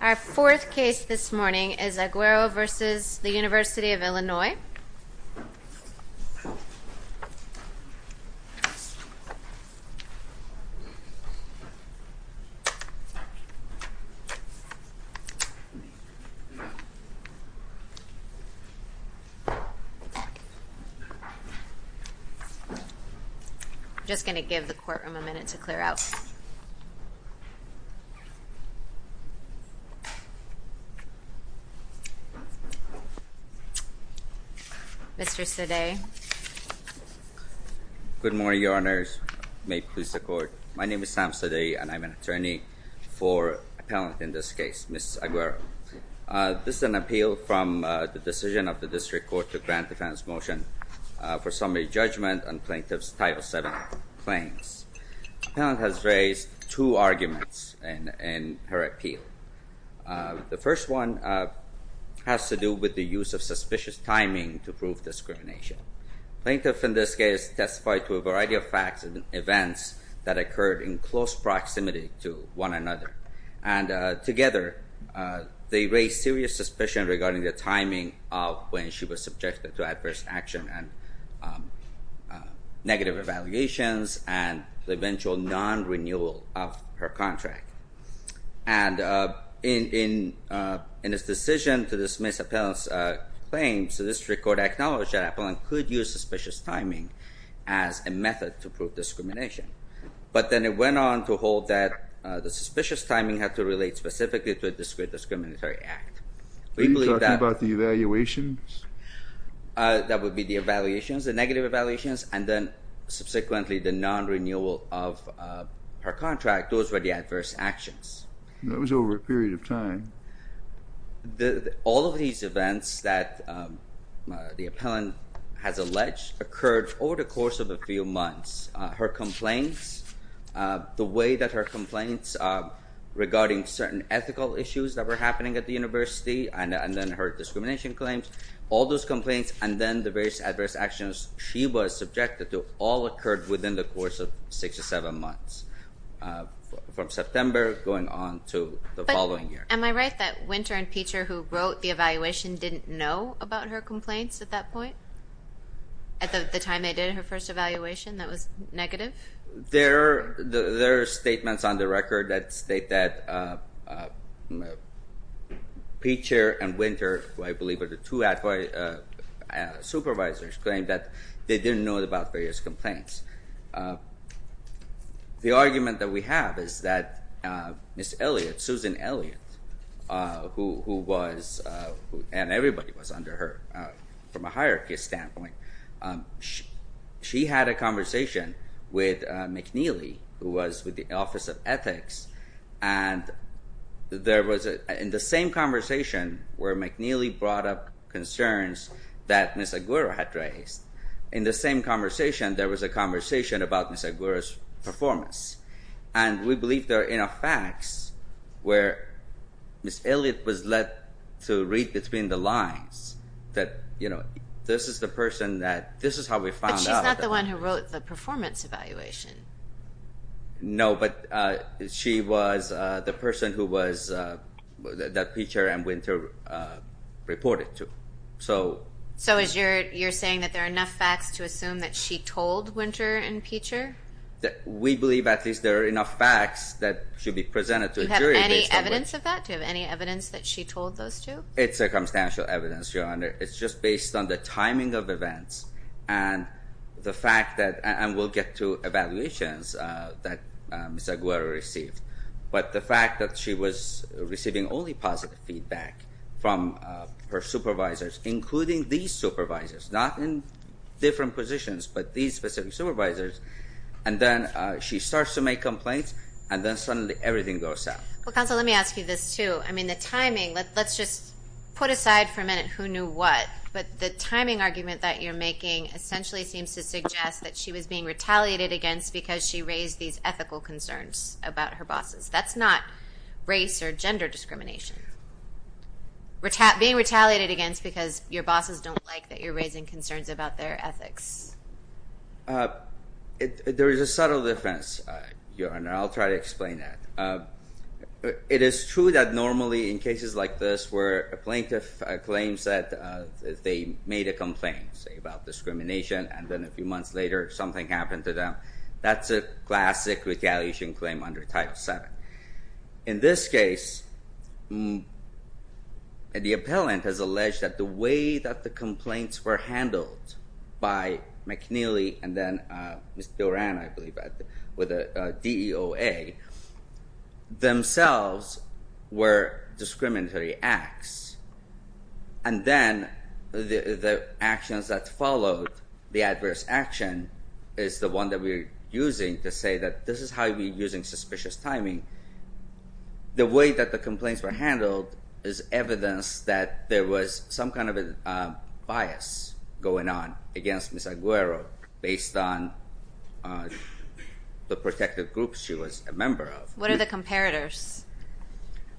Our fourth case this morning is Aguero v. University of Illinois. I'm just going to give the courtroom a minute to clear out. Mr. Sade Good morning, Your Honors. May it please the Court. My name is Sam Sade and I'm an attorney for appellant in this case, Ms. Aguero. This is an appeal from the decision of the District Court to grant defense motion for summary judgment and plaintiff's Title VII claims. The plaintiff has raised two arguments in her appeal. The first one has to do with the use of suspicious timing to prove discrimination. Plaintiff in this case testified to a variety of facts and events that occurred in close proximity to one another. And together, they raised serious suspicion regarding the timing of when she was subjected to adverse action and negative evaluations and the eventual non-renewal of her contract. And in this decision to dismiss appellant's claims, the District Court acknowledged that appellant could use suspicious timing as a method to prove discrimination. But then it went on to hold that the suspicious timing had to relate specifically to a discriminatory act. Are you talking about the evaluations? That would be the evaluations, the negative evaluations, and then subsequently the non-renewal of her contract. Those were the adverse actions. All of these events that the appellant has alleged occurred over the course of a few months. Her complaints, the way that her complaints regarding certain ethical issues that were happening at the university and then her discrimination claims, all those complaints and then the various adverse actions she was subjected to all occurred within the course of six or seven months, from September going on to the following year. Am I right that Winter and Peter, who wrote the evaluation, didn't know about her complaints at that point? At the time they did her first evaluation, that was negative? There are statements on the record that state that Peter and Winter, who I believe are the two supervisors, claimed that they didn't know about various complaints. The argument that we have is that Ms. Elliot, Susan Elliot, who was, and everybody was under her from a hierarchy standpoint, she had a conversation with McNeely, who was with the Office of Ethics. And there was, in the same conversation where McNeely brought up concerns that Ms. Aguero had raised, in the same conversation there was a conversation about Ms. Aguero's performance. And we believe there are enough facts where Ms. Elliot was led to read between the lines that this is the person that, this is how we found out. But she's not the one who wrote the performance evaluation. No, but she was the person who was, that Peter and Winter reported to. So you're saying that there are enough facts to assume that she told Winter and Peter? We believe at least there are enough facts that should be presented to a jury. Do you have any evidence of that? Do you have any evidence that she told those two? It's circumstantial evidence, Your Honor. It's just based on the timing of events and the fact that, and we'll get to evaluations that Ms. Aguero received. But the fact that she was receiving only positive feedback from her supervisors, including these supervisors, not in different positions, but these specific supervisors. And then she starts to make complaints, and then suddenly everything goes south. Well, counsel, let me ask you this, too. I mean, the timing, let's just put aside for a minute who knew what. But the timing argument that you're making essentially seems to suggest that she was being retaliated against because she raised these ethical concerns about her bosses. That's not race or gender discrimination. Being retaliated against because your bosses don't like that you're raising concerns about their ethics. There is a subtle difference, Your Honor, and I'll try to explain that. It is true that normally in cases like this where a plaintiff claims that they made a complaint, say, about discrimination, and then a few months later something happened to them, that's a classic retaliation claim under Title VII. In this case, the appellant has alleged that the way that the complaints were handled by McNeely and then Ms. Doran, I believe, with a DOA, themselves were discriminatory acts. And then the actions that followed, the adverse action, is the one that we're using to say that this is how we're using suspicious timing. The way that the complaints were handled is evidence that there was some kind of a bias going on against Ms. Aguero based on the protective groups she was a member of. What are the comparators?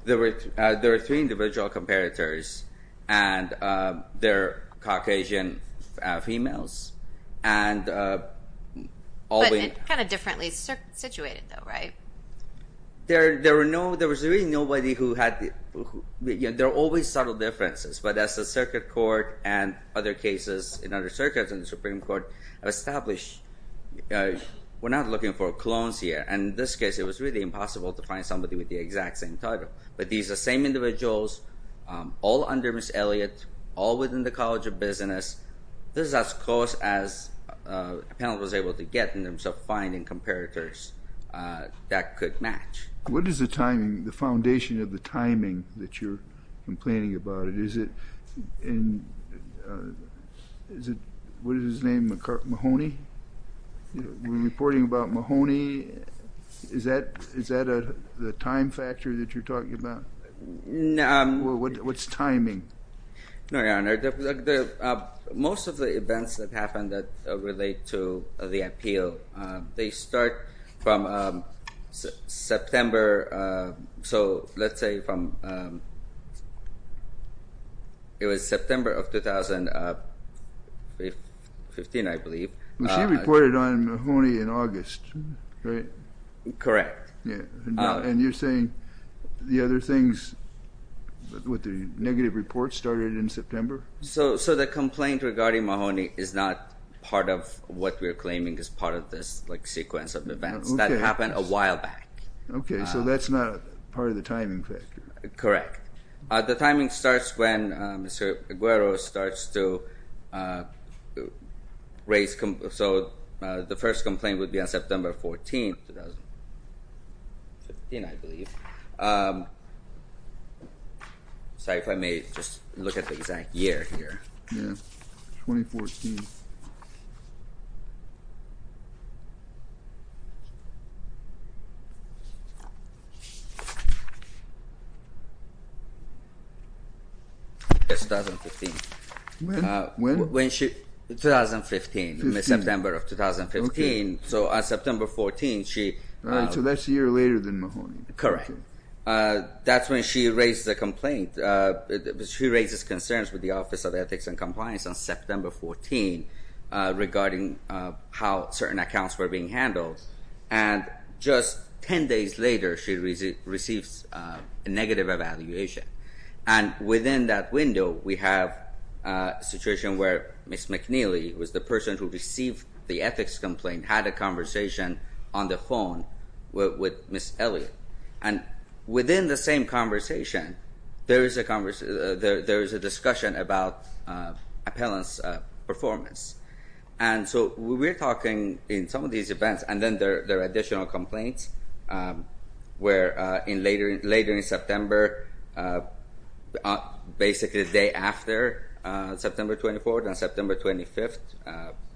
There are three individual comparators, and they're Caucasian females. But kind of differently situated, though, right? There was really nobody who had – there are always subtle differences. But as the Circuit Court and other cases in other circuits in the Supreme Court have established, we're not looking for clones here. And in this case, it was really impossible to find somebody with the exact same title. But these are the same individuals, all under Ms. Elliott, all within the College of Business. This is as close as an appellant was able to get in terms of finding comparators that could match. What is the timing, the foundation of the timing that you're complaining about? Is it in – what is his name, Mahoney? We're reporting about Mahoney. Is that the time factor that you're talking about? What's timing? Your Honor, most of the events that happen that relate to the appeal, they start from September. So let's say from – it was September of 2015, I believe. She reported on Mahoney in August, right? Correct. And you're saying the other things with the negative reports started in September? So the complaint regarding Mahoney is not part of what we're claiming is part of this sequence of events. That happened a while back. Okay, so that's not part of the timing factor. Correct. The timing starts when Mr. Aguero starts to raise – so the first complaint would be on September 14, 2015, I believe. Sorry if I may just look at the exact year here. Yeah, 2014. Yes, 2015. When? When she – 2015, September of 2015. So on September 14, she – So that's a year later than Mahoney. Correct. That's when she raises a complaint. She raises concerns with the Office of Ethics and Compliance on September 14 regarding how certain accounts were being handled. And just 10 days later, she receives a negative evaluation. And within that window, we have a situation where Ms. McNeely, who was the person who received the ethics complaint, had a conversation on the phone with Ms. Elliott. And within the same conversation, there is a discussion about appellant's performance. And so we're talking in some of these events, and then there are additional complaints where later in September, basically the day after September 24 and September 25,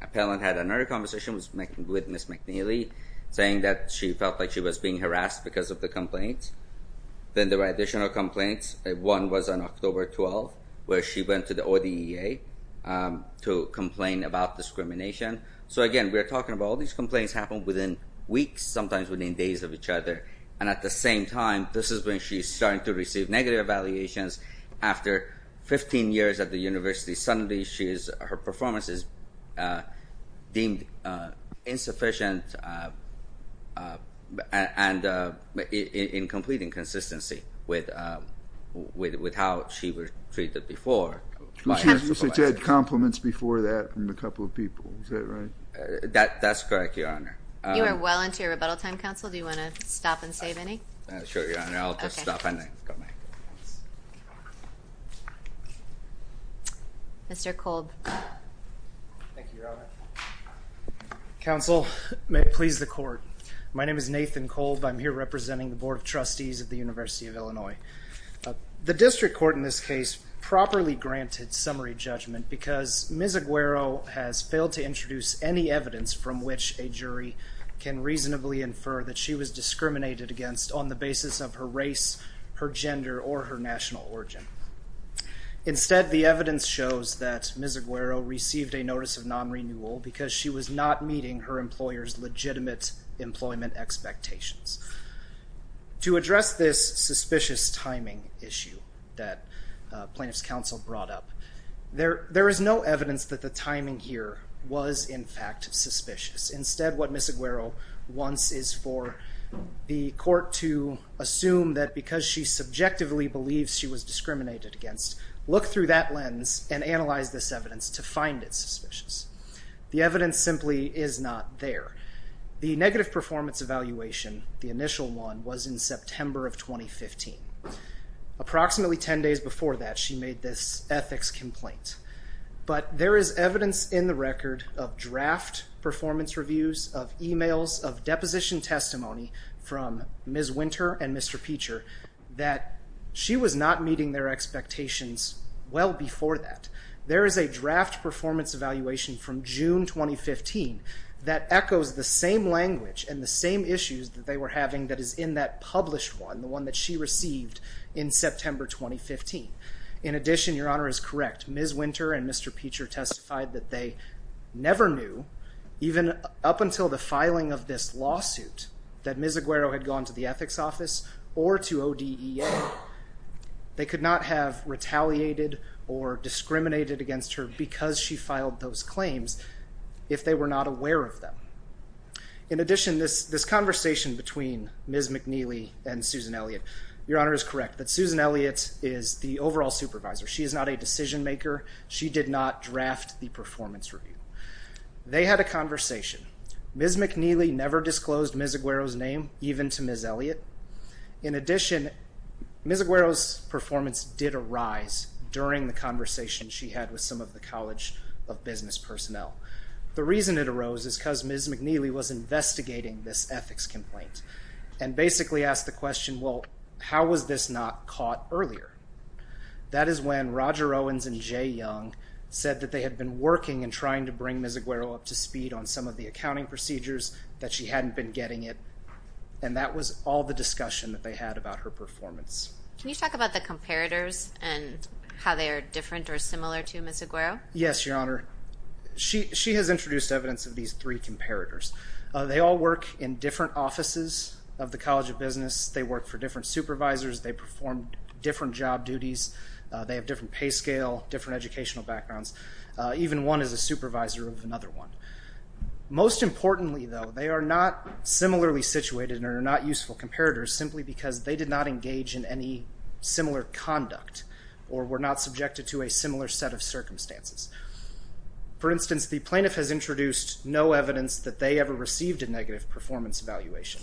appellant had another conversation with Ms. McNeely, saying that she felt like she was being harassed because of the complaint. Then there were additional complaints. One was on October 12, where she went to the ODEA to complain about discrimination. So again, we're talking about all these complaints happen within weeks, sometimes within days of each other. And at the same time, this is when she's starting to receive negative evaluations. After 15 years at the university, suddenly her performance is deemed insufficient and in complete inconsistency with how she was treated before. You said she had compliments before that from a couple of people. Is that right? That's correct, Your Honor. You are well into your rebuttal time, counsel. Do you want to stop and save any? Sure, Your Honor. I'll just stop. Mr. Kolb. Thank you, Your Honor. Counsel, may it please the court. My name is Nathan Kolb. I'm here representing the Board of Trustees at the University of Illinois. The district court in this case properly granted summary judgment because Ms. Aguero has failed to introduce any evidence from which a jury can reasonably infer that she was discriminated against on the basis of her race, her gender, or her national origin. Instead, the evidence shows that Ms. Aguero received a notice of non-renewal because she was not meeting her employer's legitimate employment expectations. To address this suspicious timing issue that plaintiff's counsel brought up, there is no evidence that the timing here was in fact suspicious. Instead, what Ms. Aguero wants is for the court to assume that because she subjectively believes she was discriminated against, look through that lens and analyze this evidence to find it suspicious. The evidence simply is not there. The negative performance evaluation, the initial one, was in September of 2015. Approximately 10 days before that, she made this ethics complaint. But there is evidence in the record of draft performance reviews, of emails, of deposition testimony from Ms. Winter and Mr. Peacher that she was not meeting their expectations well before that. There is a draft performance evaluation from June 2015 that echoes the same language and the same issues that they were having that is in that published one, the one that she received in September 2015. In addition, Your Honor is correct, Ms. Winter and Mr. Peacher testified that they never knew, even up until the filing of this lawsuit, that Ms. Aguero had gone to the ethics office or to ODEA. They could not have retaliated or discriminated against her because she filed those claims if they were not aware of them. In addition, this conversation between Ms. McNeely and Susan Elliott, Your Honor is correct that Susan Elliott is the overall supervisor. She is not a decision maker. She did not draft the performance review. They had a conversation. Ms. McNeely never disclosed Ms. Aguero's name, even to Ms. Elliott. In addition, Ms. Aguero's performance did arise during the conversation she had with some of the College of Business personnel. The reason it arose is because Ms. McNeely was investigating this ethics complaint and basically asked the question, well, how was this not caught earlier? That is when Roger Owens and Jay Young said that they had been working and trying to bring Ms. Aguero up to speed on some of the accounting procedures, that she hadn't been getting it, and that was all the discussion that they had about her performance. Can you talk about the comparators and how they are different or similar to Ms. Aguero? Yes, Your Honor. She has introduced evidence of these three comparators. They all work in different offices of the College of Business. They work for different supervisors. They perform different job duties. They have different pay scale, different educational backgrounds. Even one is a supervisor of another one. Most importantly, though, they are not similarly situated and are not useful comparators simply because they did not engage in any similar conduct or were not subjected to a similar set of circumstances. For instance, the plaintiff has introduced no evidence that they ever received a negative performance evaluation.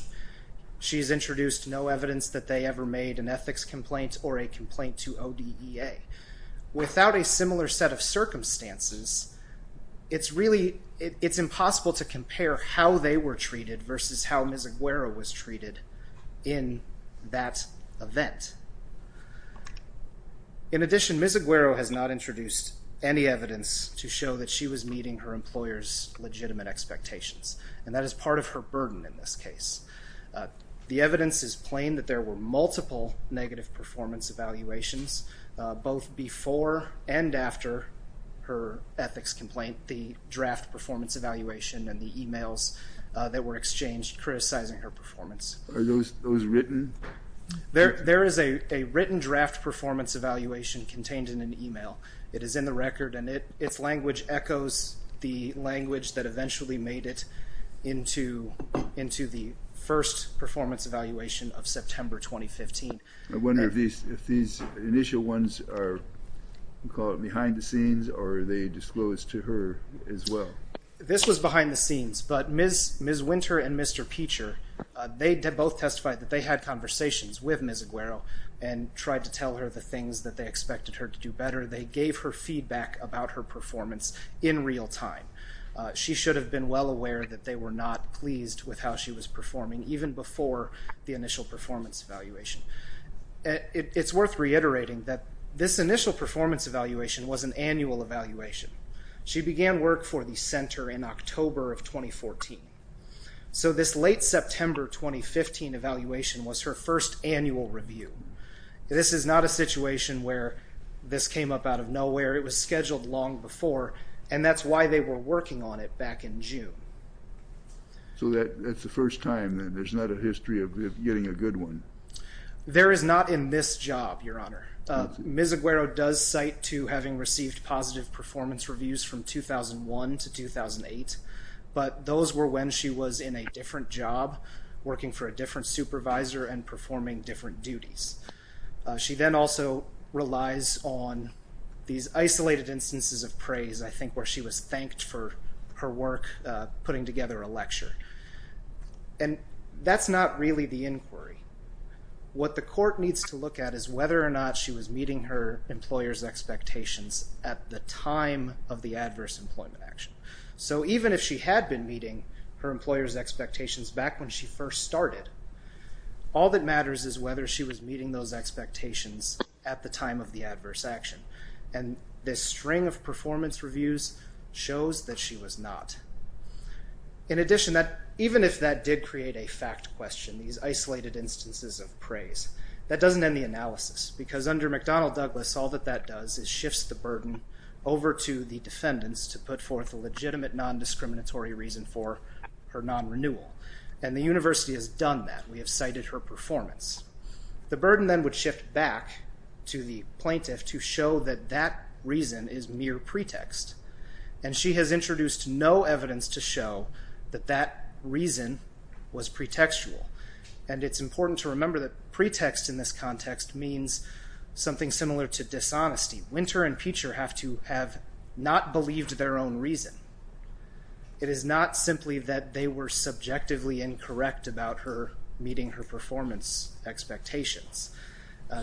She has introduced no evidence that they ever made an ethics complaint or a complaint to ODEA. Without a similar set of circumstances, it's impossible to compare how they were treated versus how Ms. Aguero was treated in that event. In addition, Ms. Aguero has not introduced any evidence to show that she was meeting her employer's legitimate expectations, and that is part of her burden in this case. The evidence is plain that there were multiple negative performance evaluations, both before and after her ethics complaint, the draft performance evaluation, and the emails that were exchanged criticizing her performance. Are those written? There is a written draft performance evaluation contained in an email. It is in the record, and its language echoes the language that eventually made it into the first performance evaluation of September 2015. I wonder if these initial ones are behind the scenes, or are they disclosed to her as well? This was behind the scenes, but Ms. Winter and Mr. Peacher, they both testified that they had conversations with Ms. Aguero and tried to tell her the things that they expected her to do better. They gave her feedback about her performance in real time. She should have been well aware that they were not pleased with how she was performing, even before the initial performance evaluation. It's worth reiterating that this initial performance evaluation was an annual evaluation. She began work for the Center in October of 2014, so this late September 2015 evaluation was her first annual review. This is not a situation where this came up out of nowhere. It was scheduled long before, and that's why they were working on it back in June. So that's the first time, and there's not a history of getting a good one? There is not in this job, Your Honor. Ms. Aguero does cite to having received positive performance reviews from 2001 to 2008, but those were when she was in a different job, working for a different supervisor, and performing different duties. She then also relies on these isolated instances of praise, I think, where she was thanked for her work putting together a lecture. And that's not really the inquiry. What the court needs to look at is whether or not she was meeting her employer's expectations at the time of the adverse employment action. So even if she had been meeting her employer's expectations back when she first started, all that matters is whether she was meeting those expectations at the time of the adverse action. And this string of performance reviews shows that she was not. In addition, even if that did create a fact question, these isolated instances of praise, that doesn't end the analysis. Because under McDonnell-Douglas, all that that does is shifts the burden over to the defendants to put forth a legitimate non-discriminatory reason for her non-renewal. And the university has done that. We have cited her performance. The burden then would shift back to the plaintiff to show that that reason is mere pretext. And she has introduced no evidence to show that that reason was pretextual. And it's important to remember that pretext in this context means something similar to dishonesty. Winter and Peacher have to have not believed their own reason. It is not simply that they were subjectively incorrect about her meeting her performance expectations.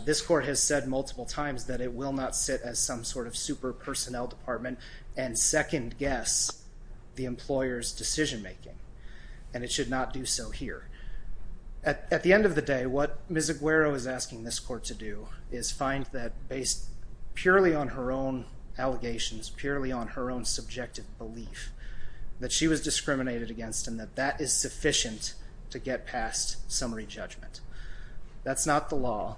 This court has said multiple times that it will not sit as some sort of super personnel department and second guess the employer's decision making. And it should not do so here. At the end of the day, what Ms. Aguero is asking this court to do is find that based purely on her own allegations, purely on her own subjective belief, that she was discriminated against and that that is sufficient to get past summary judgment. That's not the law.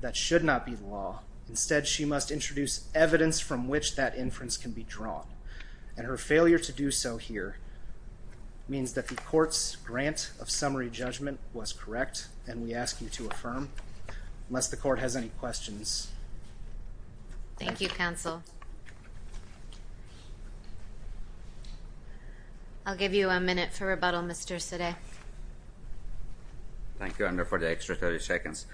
That should not be the law. Instead, she must introduce evidence from which that inference can be drawn. And her failure to do so here means that the court's grant of summary judgment was correct and we ask you to affirm. Unless the court has any questions. Thank you, counsel. I'll give you a minute for rebuttal, Mr. Sidi. Thank you, Andrew, for the extra 30 seconds.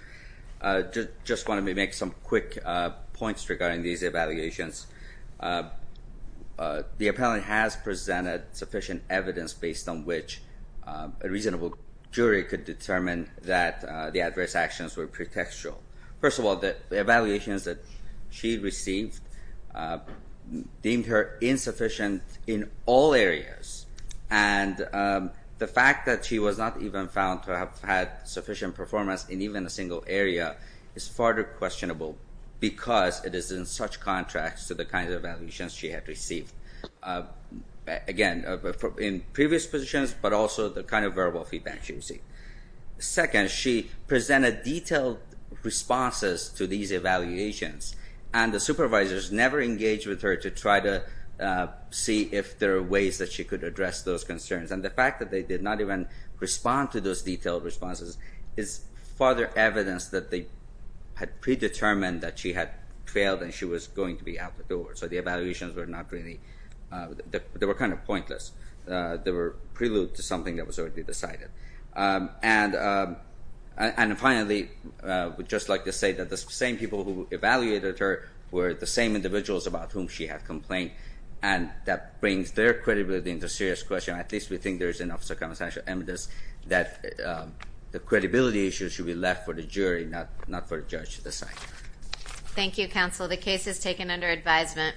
Just wanted to make some quick points regarding these evaluations. The appellant has presented sufficient evidence based on which a reasonable jury could determine that the adverse actions were pretextual. First of all, the evaluations that she received deemed her insufficient in all areas. And the fact that she was not even found to have had sufficient performance in even a single area is further questionable because it is in such contrast to the kinds of evaluations she had received. Again, in previous positions, but also the kind of verbal feedback she received. Second, she presented detailed responses to these evaluations. And the supervisors never engaged with her to try to see if there are ways that she could address those concerns. And the fact that they did not even respond to those detailed responses is further evidence that they had predetermined that she had failed and she was going to be out the door. So the evaluations were not really, they were kind of pointless. They were prelude to something that was already decided. And finally, I would just like to say that the same people who evaluated her were the same individuals about whom she had complained. And that brings their credibility into serious question. At least we think there is enough circumstantial evidence that the credibility issue should be left for the jury, not for the judge to decide. Thank you, counsel. The case is taken under advisement.